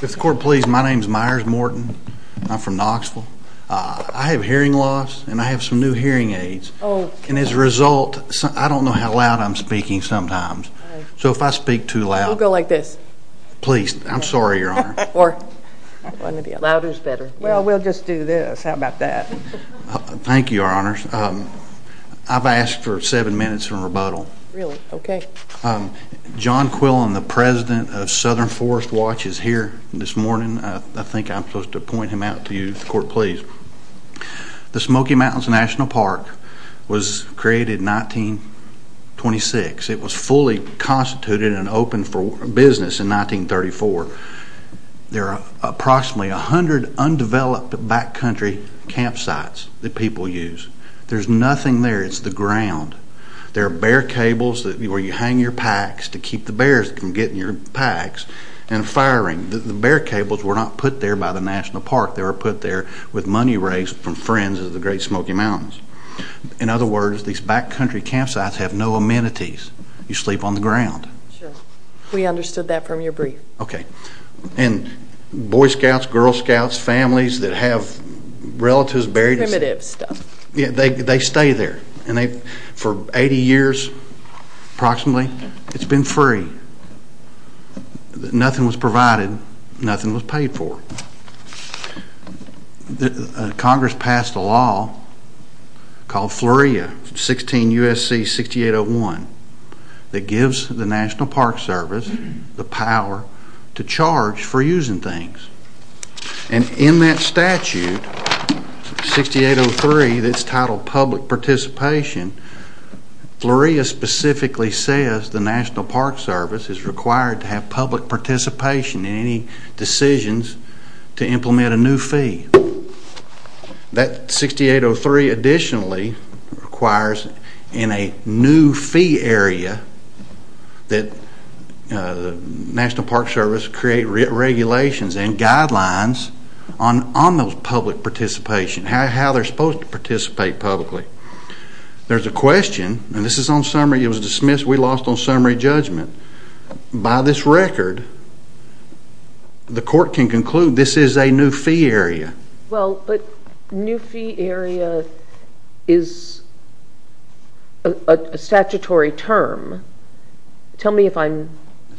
If the court please, my name is Myers Morton. I'm from Knoxville. I have hearing loss and I have some new hearing aids. And as a result, I don't know how loud I'm speaking sometimes. So if I speak too loud, I've asked for seven minutes of rebuttal. John Quillen, the president of Southern Forest Watch is here this morning. I think I'm supposed to point him out to you, if the court please. The Smoky Mountains National Park was created in 1926. It was fully constituted and open for business in 1934. There are approximately a hundred undeveloped backcountry campsites that people use. There's nothing there. It's the ground. There are bear cables where you hang your packs to keep the bears from getting your packs and firing. The bear cables were not put there by the National Park. They were put there with money raised from friends of the Great Smoky Mountains. In other words, these backcountry campsites have no amenities. You sleep on the ground. Boy Scouts, Girl Scouts, families that have relatives buried there, they stay there. For 80 years approximately, it's been free. Nothing was provided. Nothing was paid for. Congress passed a law called FLORIA 16 U.S.C. 6801 that gives the National Park Service the power to charge for using things. And in that statute 6803 that's titled public participation, FLORIA specifically says the National Park Service is required to have public participation in any decisions to implement a new fee. That 6803 additionally requires in a new fee area that the National Park Service create regulations and guidelines on those public participation, how they're supposed to participate publicly. There's a question, and this is on We lost on summary judgment. By this record, the court can conclude this is a new fee area. Well, but new fee area is a statutory term. Tell me if I'm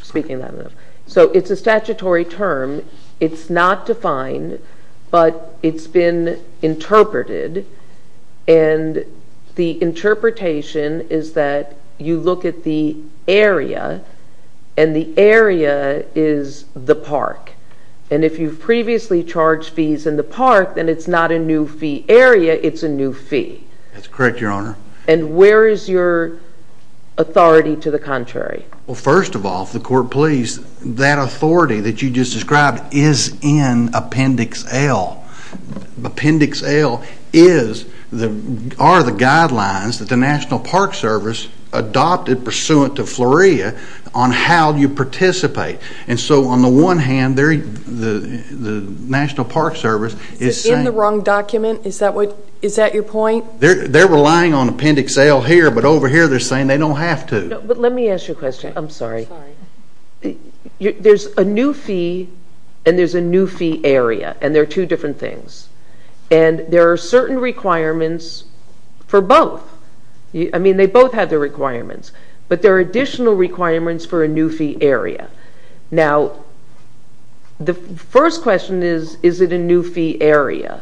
speaking that enough. So it's a statutory term. It's not defined, but it's been interpreted, and the interpretation is that you look at the area, and the area is the park. And if you've previously charged fees in the park, then it's not a new fee area, it's a new fee. That's correct, Your Honor. And where is your authority to the contrary? Well, first of all, if the court please, that authority that you just described is in Appendix L. Appendix L are the guidelines that the National Park Service adopted pursuant to FLORIA on how you participate. And so on the one hand, the National Park Service is saying... Is it in the wrong document? Is that your point? They're relying on Appendix L here, but over here they're saying they don't have to. But let me ask you a question. I'm sorry. There's a new fee, and there's a new fee area, and they're two different things. And there are certain requirements for both. I mean, they both have their requirements, but there are additional requirements for a new fee area. Now, the first question is, is it a new fee area?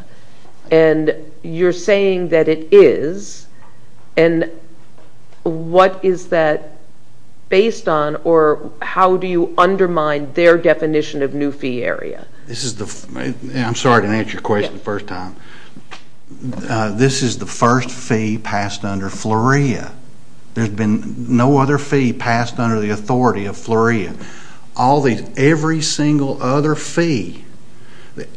And you're saying that it is, and what is that based on, or how do you undermine their definition of new fee area? I'm sorry to answer your question the first time. This is the first fee passed under FLORIA. There's been no other fee passed under the authority of FLORIA. Every single other fee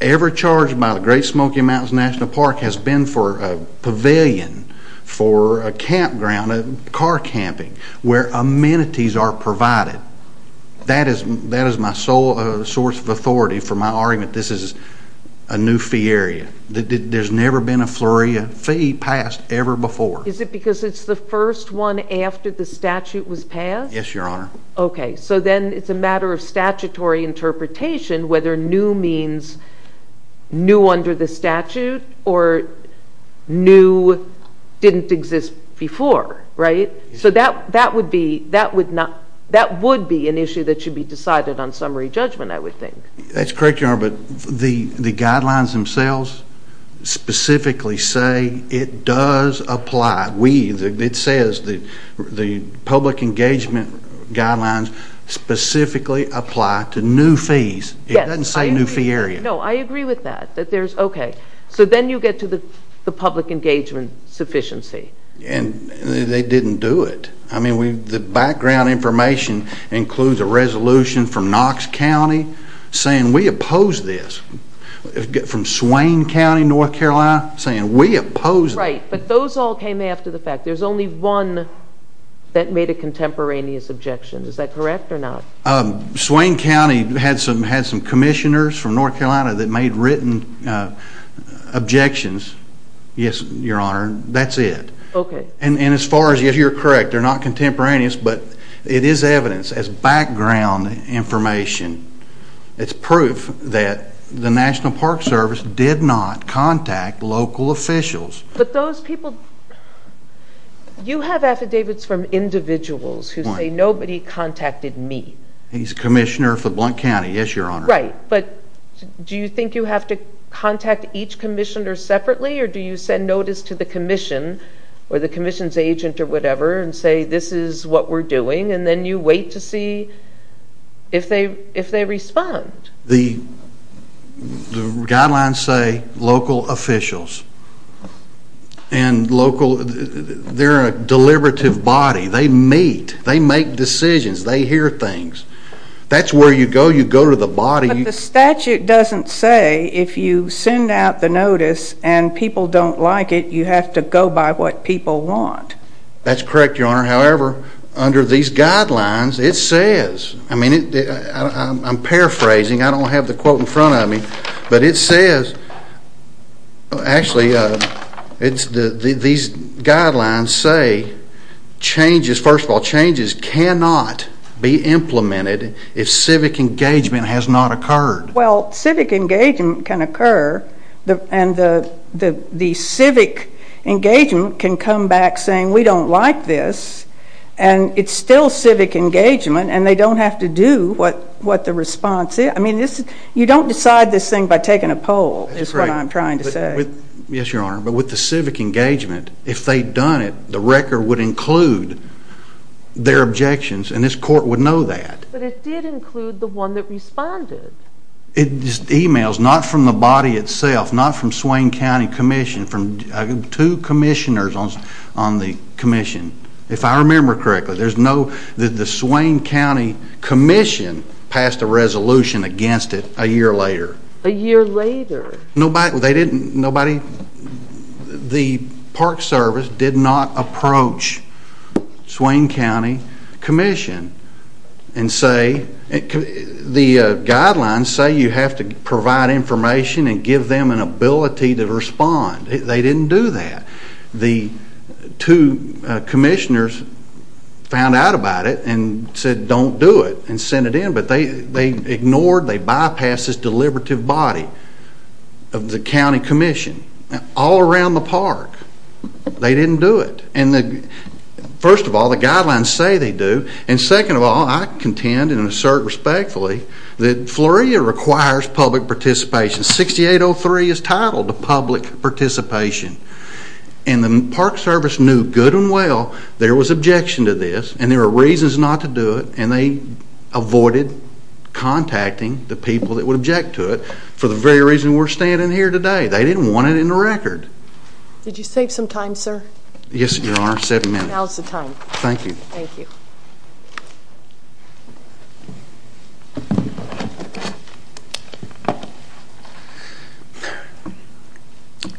ever charged by the Great Smoky Mountains National Park has been for a pavilion, for a campground, car camping, where amenities are provided. That is my sole source of authority for my argument. This is a new fee area. There's never been a FLORIA fee passed ever before. Is it because it's the first one after the statute was passed? Yes, Your Honor. Okay, so then it's a matter of statutory interpretation whether new means new under the statute or new didn't exist before, right? So that would be an issue that should be decided on summary judgment, I would think. That's correct, Your Honor, but the guidelines themselves specifically say it does apply. It says the public engagement guidelines specifically apply to new fees. It doesn't say new fee area. No, I agree with that. Okay, so then you get to the public engagement sufficiency. They didn't do it. The background information includes a resolution from Knox County saying we oppose this. From Swain County, North Carolina, saying we oppose this. Right, but those all came after the fact. There's only one that made a contemporaneous objection. Is that correct or not? Swain County had some commissioners from North Carolina that made written objections. Yes, Your Honor, that's it. Okay. And as far as, yes, you're correct, they're not contemporaneous, but it is evidence as background information. It's proof that the National Park Service did not contact local officials. But those people, you have affidavits from individuals who say nobody contacted me. He's commissioner for Blount County, yes, Your Honor. Right, but do you think you have to contact each commissioner separately or do you send notice to the commission or the commission's agent or whatever and say this is what we're doing and then you wait to see if they respond? The guidelines say local officials and local, they're a deliberative body. They meet. They make decisions. They hear things. That's where you go. You go to the body. But the statute doesn't say if you send out the notice and people don't like it, you have to go by what people want. That's correct, Your Honor. However, under these guidelines, it says, I'm paraphrasing, I don't have the quote in front of me, but it says, actually, these guidelines say changes, first of all, changes cannot be implemented if civic engagement has not occurred. Well, civic engagement can occur and the civic engagement can come back saying we don't like this and it's still civic engagement and they don't have to do what the response is. I mean, you don't decide this thing by taking a poll is what I'm trying to say. Yes, Your Honor, but with the civic engagement, if they'd done it, the record would include their objections and this court would know that. But it did include the one that responded. It's emails, not from the body itself, not from Swain County Commission, from two commissioners on the commission. If I remember correctly, the Swain County Commission passed a resolution against it a year later. A year later. Nobody, they didn't, nobody, the Park Service did not approach Swain County Commission and say, the guidelines say you have to provide information and give them an ability to respond. They didn't do that. The two commissioners found out about it and said don't do it and sent it in, but they ignored, they bypassed this deliberative body of the county commission all around the park. They didn't do it. First of all, the guidelines say they do and second of all, I contend and assert respectfully that FLORIA requires public participation. 6803 is titled to public participation. And the Park Service knew good and well there was objection to this and there were reasons not to do it and they avoided contacting the people that would object to it for the very reason we're standing here today. They didn't want it in the record. Yes, Your Honor, seven minutes. Now's the time. Thank you. Thank you.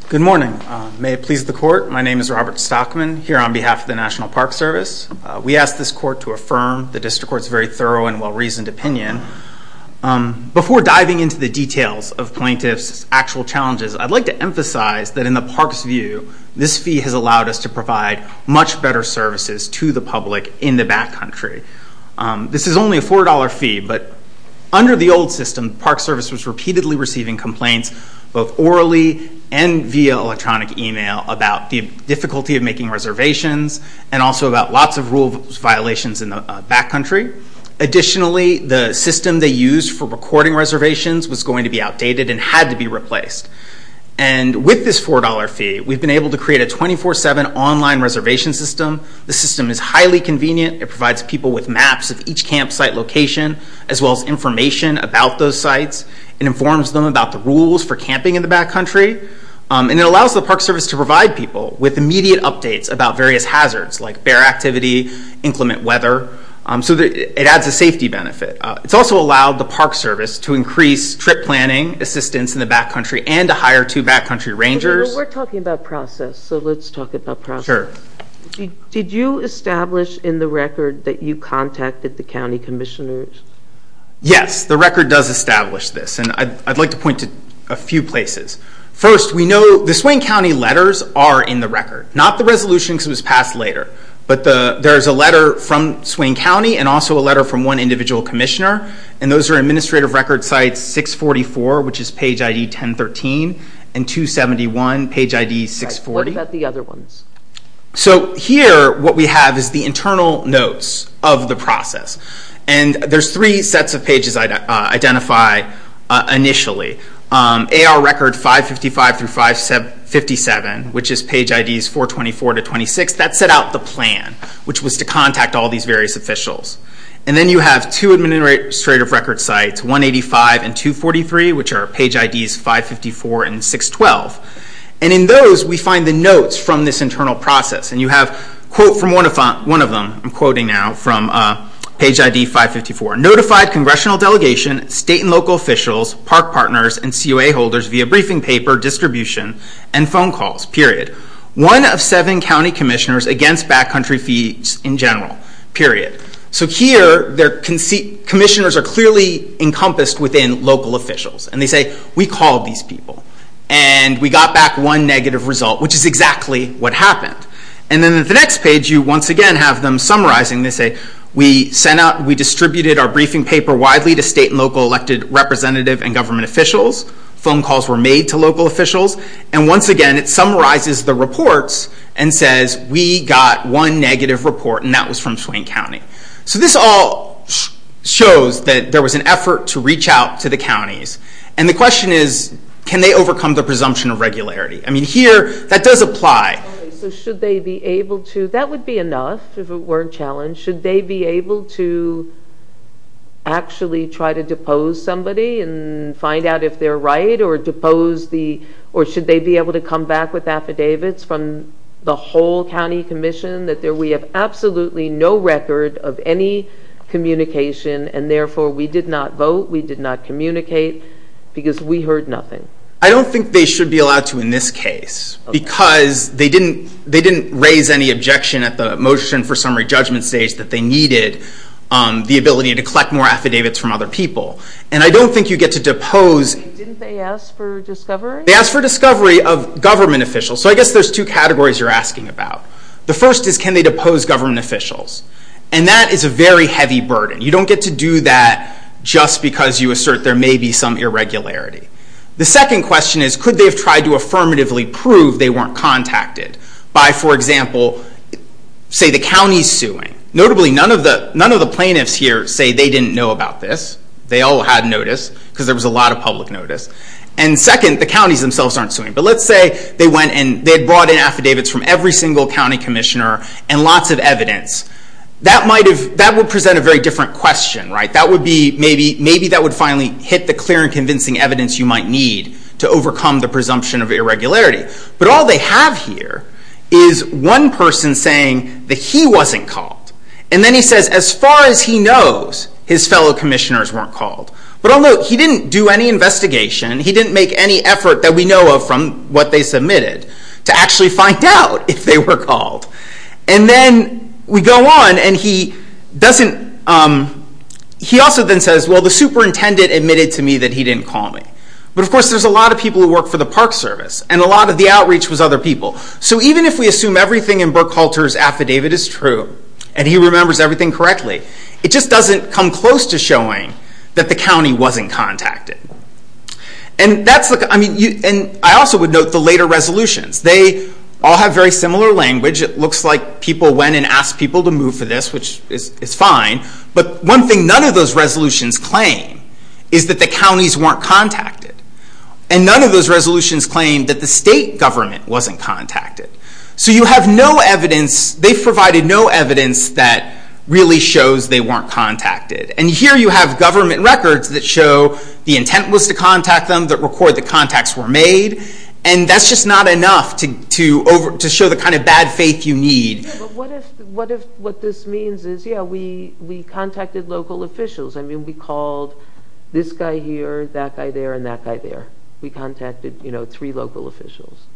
Good morning. May it please the court, my name is Robert Stockman, here on behalf of the National Park Service. We ask this court to affirm the District Court's very thorough and well-reasoned opinion. Before diving into the details of plaintiff's actual challenges, I'd like to emphasize that in the Park's view, this fee has allowed us to provide much better services to the public in the back country. This is only a $4 fee, but under the old system, Park Service was repeatedly receiving complaints both orally and via electronic email about the difficulty of making reservations and also about lots of rule violations in the back country. Additionally, the system they used for recording reservations was going to be outdated and had to be replaced. And with this $4 fee, we've been able to create a 24-7 online reservation system. The system is highly convenient. It provides people with maps of each campsite location as well as information about those sites and informs them about the rules for camping in the back country. And it allows the Park Service to provide people with immediate updates about various hazards like bear activity, inclement weather. So it adds a safety benefit. It's also allowed the Park Service to increase trip planning assistance in the back country and to hire two back country rangers. We're talking about process, so let's talk about process. Sure. Did you establish in the record that you contacted the county commissioners? Yes, the record does establish this, and I'd like to point to a few places. Not the resolution because it was passed later, but there's a letter from Swain County and also a letter from one individual commissioner, and those are administrative record sites 644, which is page ID 1013, and 271, page ID 640. What about the other ones? So here what we have is the internal notes of the process, and there's three sets of pages identified initially. AR record 555 through 557, which is page IDs 424 to 26, that set out the plan, which was to contact all these various officials. And then you have two administrative record sites, 185 and 243, which are page IDs 554 and 612. And in those we find the notes from this internal process, and you have a quote from one of them, I'm quoting now, from page ID 554. Notified congressional delegation, state and local officials, park partners, and COA holders via briefing paper, distribution, and phone calls, period. One of seven county commissioners against backcountry fees in general, period. So here their commissioners are clearly encompassed within local officials, and they say, we called these people, and we got back one negative result, which is exactly what happened. And then at the next page, you once again have them summarizing. They say, we sent out, we distributed our briefing paper widely to state and local elected representative and government officials. Phone calls were made to local officials. And once again, it summarizes the reports and says, we got one negative report, and that was from Swain County. So this all shows that there was an effort to reach out to the counties. And the question is, can they overcome the presumption of regularity? I mean, here that does apply. So should they be able to? That would be enough if it weren't challenged. Should they be able to actually try to depose somebody and find out if they're right, or should they be able to come back with affidavits from the whole county commission that we have absolutely no record of any communication, and therefore we did not vote, we did not communicate, because we heard nothing. I don't think they should be allowed to in this case, because they didn't raise any objection at the motion for summary judgment stage that they needed the ability to collect more affidavits from other people. And I don't think you get to depose. Didn't they ask for discovery? They asked for discovery of government officials. So I guess there's two categories you're asking about. The first is, can they depose government officials? And that is a very heavy burden. You don't get to do that just because you assert there may be some irregularity. The second question is, could they have tried to affirmatively prove they weren't contacted by, for example, say the counties suing? Notably, none of the plaintiffs here say they didn't know about this. They all had notice, because there was a lot of public notice. And second, the counties themselves aren't suing. But let's say they went and they brought in affidavits from every single county commissioner and lots of evidence. That would present a very different question. Maybe that would finally hit the clear and convincing evidence you might need to overcome the presumption of irregularity. But all they have here is one person saying that he wasn't called. And then he says, as far as he knows, his fellow commissioners weren't called. But he didn't do any investigation. He didn't make any effort that we know of from what they submitted to actually find out if they were called. And then we go on, and he also then says, well, the superintendent admitted to me that he didn't call me. But, of course, there's a lot of people who work for the Park Service, and a lot of the outreach was other people. So even if we assume everything in Brooke Halter's affidavit is true and he remembers everything correctly, it just doesn't come close to showing that the county wasn't contacted. And I also would note the later resolutions. They all have very similar language. It looks like people went and asked people to move for this, which is fine. But one thing none of those resolutions claim is that the counties weren't contacted. And none of those resolutions claim that the state government wasn't contacted. So you have no evidence. They provided no evidence that really shows they weren't contacted. And here you have government records that show the intent was to contact them, that record the contacts were made. And that's just not enough to show the kind of bad faith you need. But what if what this means is, yeah, we contacted local officials. I mean, we called this guy here, that guy there, and that guy there. We contacted three local officials.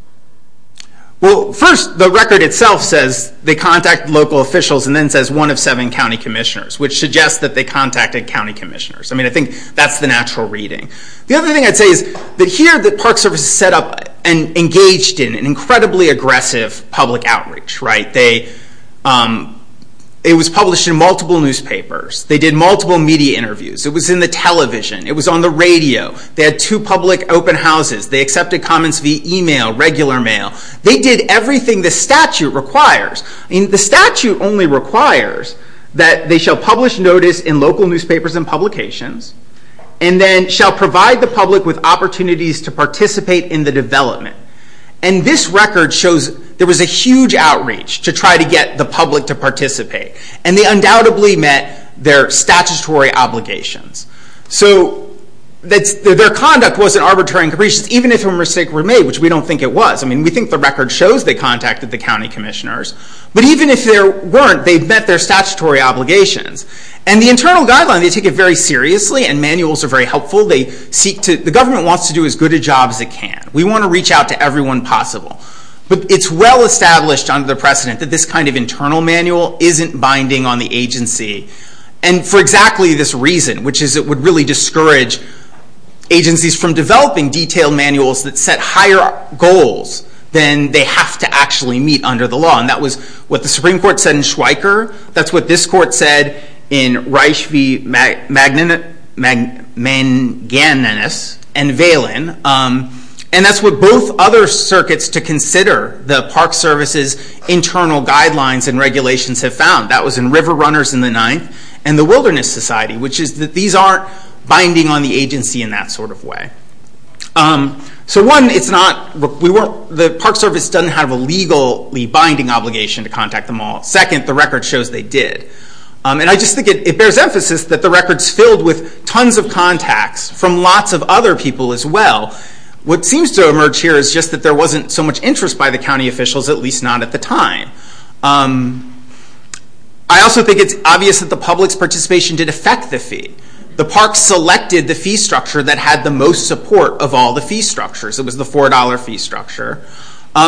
Well, first, the record itself says they contacted local officials and then says one of seven county commissioners, which suggests that they contacted county commissioners. I mean, I think that's the natural reading. The other thing I'd say is that here the Park Service set up and engaged in an incredibly aggressive public outreach. It was published in multiple newspapers. They did multiple media interviews. It was in the television. It was on the radio. They had two public open houses. They accepted comments via email, regular mail. They did everything the statute requires. The statute only requires that they shall publish notice in local newspapers and publications and then shall provide the public with opportunities to participate in the development. And this record shows there was a huge outreach to try to get the public to participate. And they undoubtedly met their statutory obligations. So their conduct wasn't arbitrary and capricious, even if a mistake were made, which we don't think it was. I mean, we think the record shows they contacted the county commissioners. But even if there weren't, they met their statutory obligations. And the internal guideline, they take it very seriously. And manuals are very helpful. The government wants to do as good a job as it can. We want to reach out to everyone possible. But it's well established under the precedent that this kind of internal manual isn't binding on the agency and for exactly this reason, which is it would really discourage agencies from developing detailed manuals that set higher goals than they have to actually meet under the law. And that was what the Supreme Court said in Schweiker. That's what this court said in Reich v. Magnanus and Valen. And that's what both other circuits to consider the Park Service's internal guidelines and regulations have found. That was in River Runners in the 9th and the Wilderness Society, which is that these aren't binding on the agency in that sort of way. So one, the Park Service doesn't have a legally binding obligation to contact them all. Second, the record shows they did. And I just think it bears emphasis that the record's filled with tons of contacts from lots of other people as well. What seems to emerge here is just that there wasn't so much interest by the county officials, at least not at the time. I also think it's obvious that the public's participation did affect the fee. The Park selected the fee structure that had the most support of all the fee structures. It was the $4 fee structure.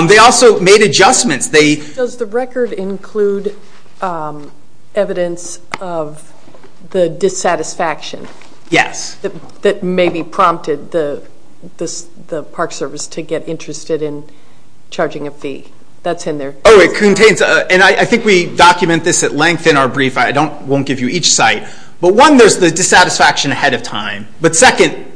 They also made adjustments. Does the record include evidence of the dissatisfaction that maybe prompted the Park Service to get interested in charging a fee? That's in there. Oh, it contains. And I think we document this at length in our brief. I won't give you each site. But one, there's the dissatisfaction ahead of time. But second,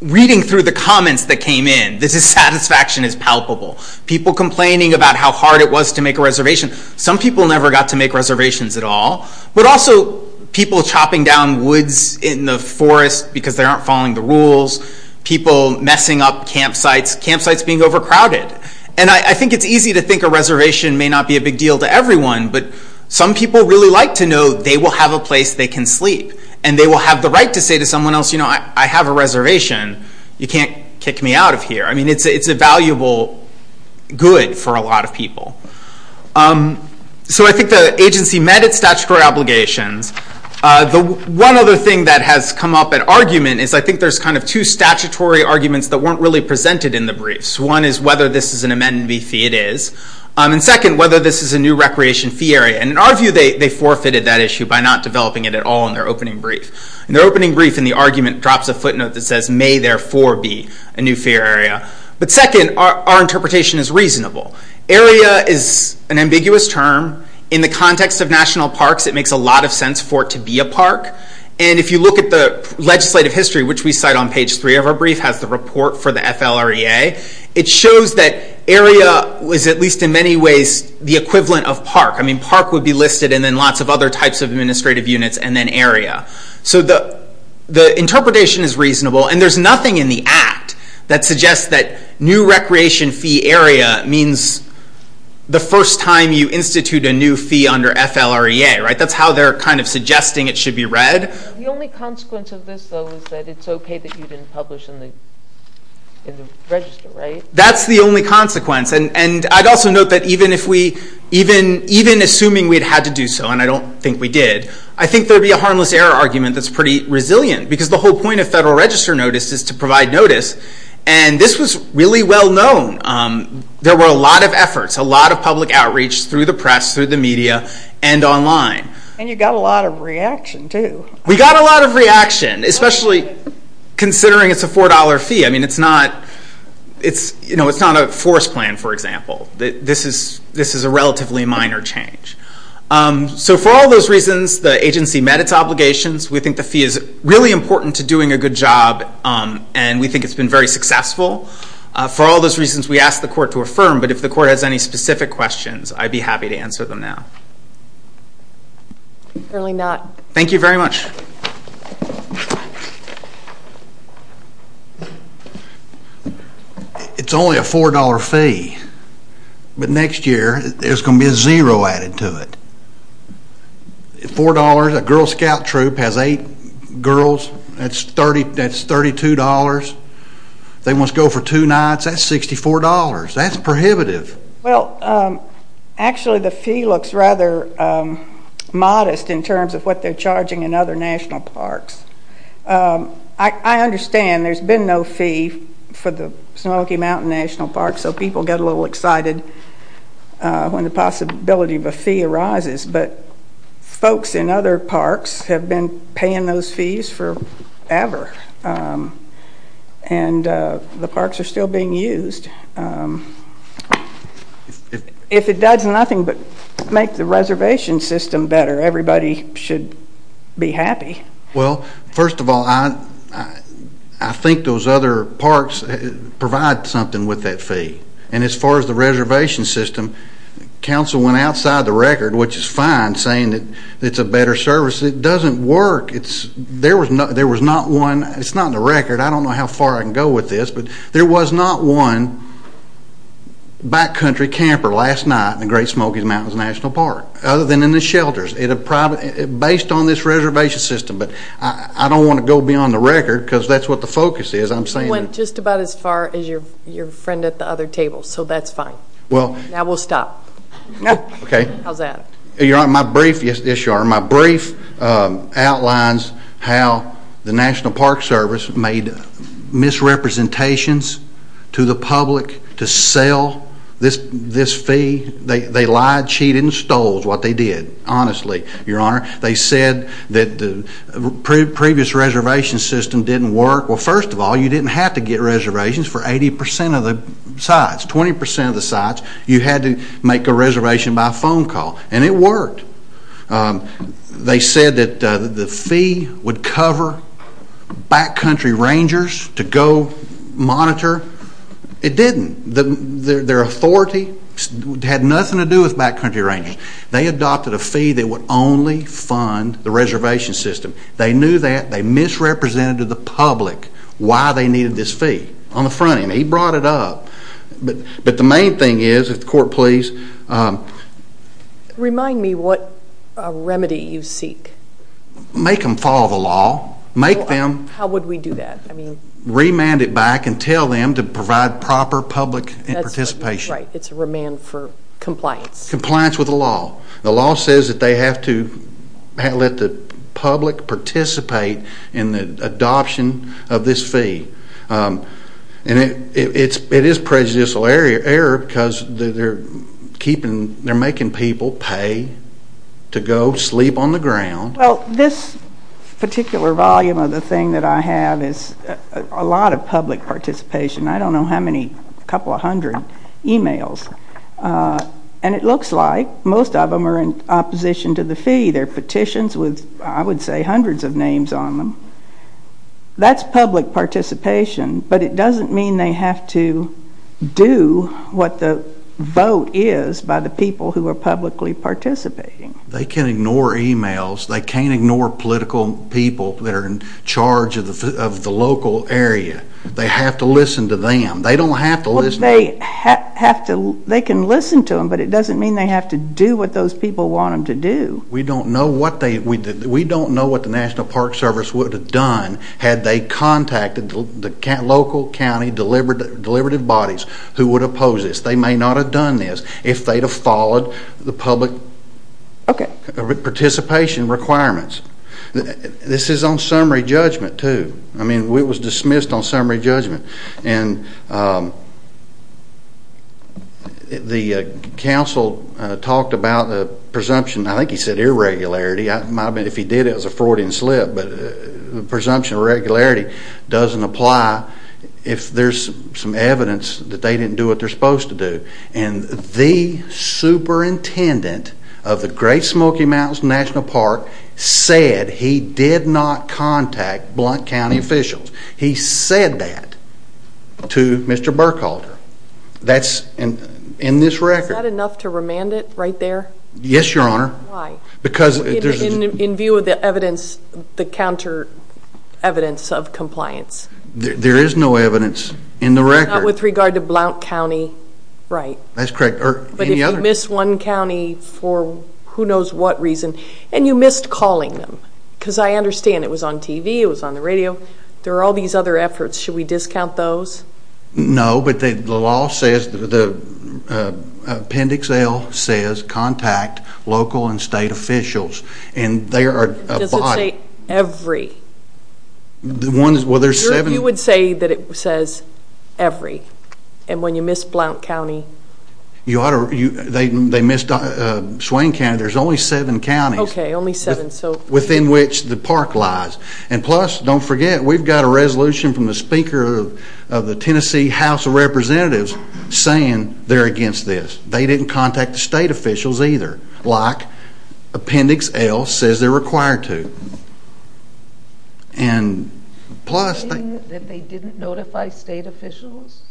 reading through the comments that came in, the dissatisfaction is palpable. People complaining about how hard it was to make a reservation. Some people never got to make reservations at all. But also, people chopping down woods in the forest because they aren't following the rules. People messing up campsites. Campsites being overcrowded. And I think it's easy to think a reservation may not be a big deal to everyone, but some people really like to know they will have a place they can sleep. And they will have the right to say to someone else, you know, I have a reservation. You can't kick me out of here. I mean, it's a valuable good for a lot of people. So I think the agency met its statutory obligations. The one other thing that has come up at argument is I think there's kind of two statutory arguments that weren't really presented in the briefs. One is whether this is an amenity fee. It is. And second, whether this is a new recreation fee area. And in our view, they forfeited that issue In their opening brief, in the argument, it drops a footnote that says may therefore be a new fair area. But second, our interpretation is reasonable. Area is an ambiguous term. In the context of national parks, it makes a lot of sense for it to be a park. And if you look at the legislative history, which we cite on page three of our brief, has the report for the FLREA. It shows that area is at least in many ways the equivalent of park. I mean, park would be listed and then lots of other types of administrative units and then area. So the interpretation is reasonable. And there's nothing in the act that suggests that new recreation fee area means the first time you institute a new fee under FLREA. That's how they're kind of suggesting it should be read. The only consequence of this, though, is that it's okay that you didn't publish in the register, right? That's the only consequence. And I'd also note that even assuming we'd had to do so, and I don't think we did, I think there'd be a harmless error argument that's pretty resilient because the whole point of federal register notice is to provide notice. And this was really well known. There were a lot of efforts, a lot of public outreach through the press, through the media, and online. And you got a lot of reaction, too. We got a lot of reaction, especially considering it's a $4 fee. I mean, it's not a force plan, for example. This is a relatively minor change. So for all those reasons, the agency met its obligations. We think the fee is really important to doing a good job, and we think it's been very successful. For all those reasons, we asked the court to affirm, but if the court has any specific questions, I'd be happy to answer them now. Certainly not. Thank you very much. It's only a $4 fee. But next year, there's going to be a zero added to it. $4, a Girl Scout troop has eight girls. That's $32. They must go for two nights. That's $64. That's prohibitive. Well, actually, the fee looks rather modest in terms of what they're charging in other national parks. I understand there's been no fee for the Snooki Mountain National Park, so people get a little excited when the possibility of a fee arises. But folks in other parks have been paying those fees forever, and the parks are still being used. If it does nothing but make the reservation system better, everybody should be happy. Well, first of all, I think those other parks provide something with that fee. And as far as the reservation system, council went outside the record, which is fine, saying that it's a better service. It doesn't work. There was not one. It's not in the record. I don't know how far I can go with this, but there was not one backcountry camper last night in the Great Smoky Mountains National Park, other than in the shelters, based on this reservation system. But I don't want to go beyond the record because that's what the focus is. You went just about as far as your friend at the other table, so that's fine. Now we'll stop. How's that? Your Honor, my brief outlines how the National Park Service made misrepresentations to the public to sell this fee. They lied, cheated, and stole what they did, honestly, Your Honor. They said that the previous reservation system didn't work. Well, first of all, you didn't have to get reservations for 80% of the sites, 20% of the sites. You had to make a reservation by phone call, and it worked. They said that the fee would cover backcountry rangers to go monitor. It didn't. Their authority had nothing to do with backcountry rangers. They adopted a fee that would only fund the reservation system. They knew that. They misrepresented to the public why they needed this fee on the front end. He brought it up. But the main thing is, if the Court please. Remind me what remedy you seek. Make them follow the law. How would we do that? Remand it back and tell them to provide proper public participation. Right. It's a remand for compliance. Compliance with the law. The law says that they have to let the public participate in the adoption of this fee. It is prejudicial error because they're making people pay to go sleep on the ground. Well, this particular volume of the thing that I have is a lot of public participation. I don't know how many, a couple of hundred emails. And it looks like most of them are in opposition to the fee. They're petitions with, I would say, hundreds of names on them. That's public participation. But it doesn't mean they have to do what the vote is by the people who are publicly participating. They can ignore emails. They can't ignore political people that are in charge of the local area. They have to listen to them. They don't have to listen. They can listen to them, but it doesn't mean they have to do what those people want them to do. We don't know what the National Park Service would have done had they contacted the local county deliberative bodies who would oppose this. They may not have done this if they'd have followed the public participation requirements. This is on summary judgment, too. It was dismissed on summary judgment. And the council talked about the presumption. I think he said irregularity. If he did, it was a Freudian slip. But the presumption of irregularity doesn't apply if there's some evidence that they didn't do what they're supposed to do. And the superintendent of the Great Smoky Mountains National Park said he did not contact Blount County officials. He said that to Mr. Burkholder. That's in this record. Is that enough to remand it right there? Yes, Your Honor. Why? In view of the evidence, the counter evidence of compliance. There is no evidence in the record. Not with regard to Blount County, right? That's correct. But if you miss one county for who knows what reason, and you missed calling them, because I understand it was on TV, it was on the radio, there are all these other efforts. Should we discount those? No, but the law says, appendix L says, contact local and state officials. Does it say every? Well, there's seven. You would say that it says every. And when you miss Blount County? They missed Swain County. There's only seven counties within which the park lies. And plus, don't forget, we've got a resolution from the speaker of the Tennessee House of Representatives saying they're against this. They didn't contact the state officials either, like appendix L says they're required to. And plus... Are you saying that they didn't notify state officials?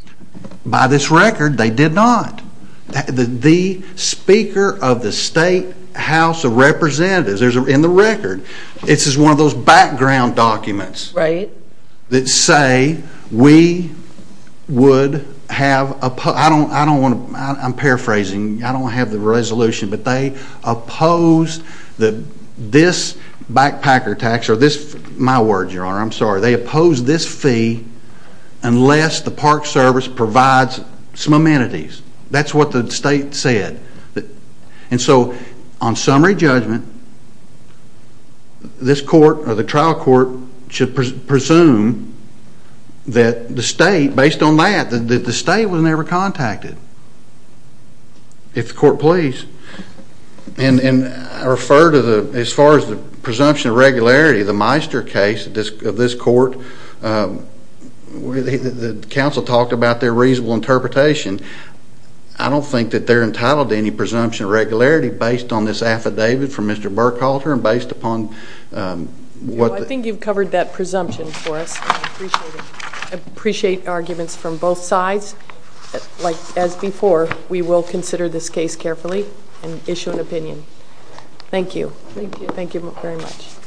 By this record, they did not. The speaker of the state House of Representatives, in the record, this is one of those background documents that say we would have... I'm paraphrasing. I don't have the resolution, but they oppose this backpacker tax, or my word, Your Honor, I'm sorry, they oppose this fee unless the Park Service provides some amenities. That's what the state said. And so, on summary judgment, this court, or the trial court, should presume that the state, based on that, that the state was never contacted. If the court please. And I refer to, as far as the presumption of regularity, the Meister case of this court, the counsel talked about their reasonable interpretation. I don't think that they're entitled to any presumption of regularity based on this affidavit from Mr. Burkhalter and based upon what... I think you've covered that presumption for us. I appreciate it. I appreciate arguments from both sides. As before, we will consider this case carefully and issue an opinion. Thank you. Thank you very much.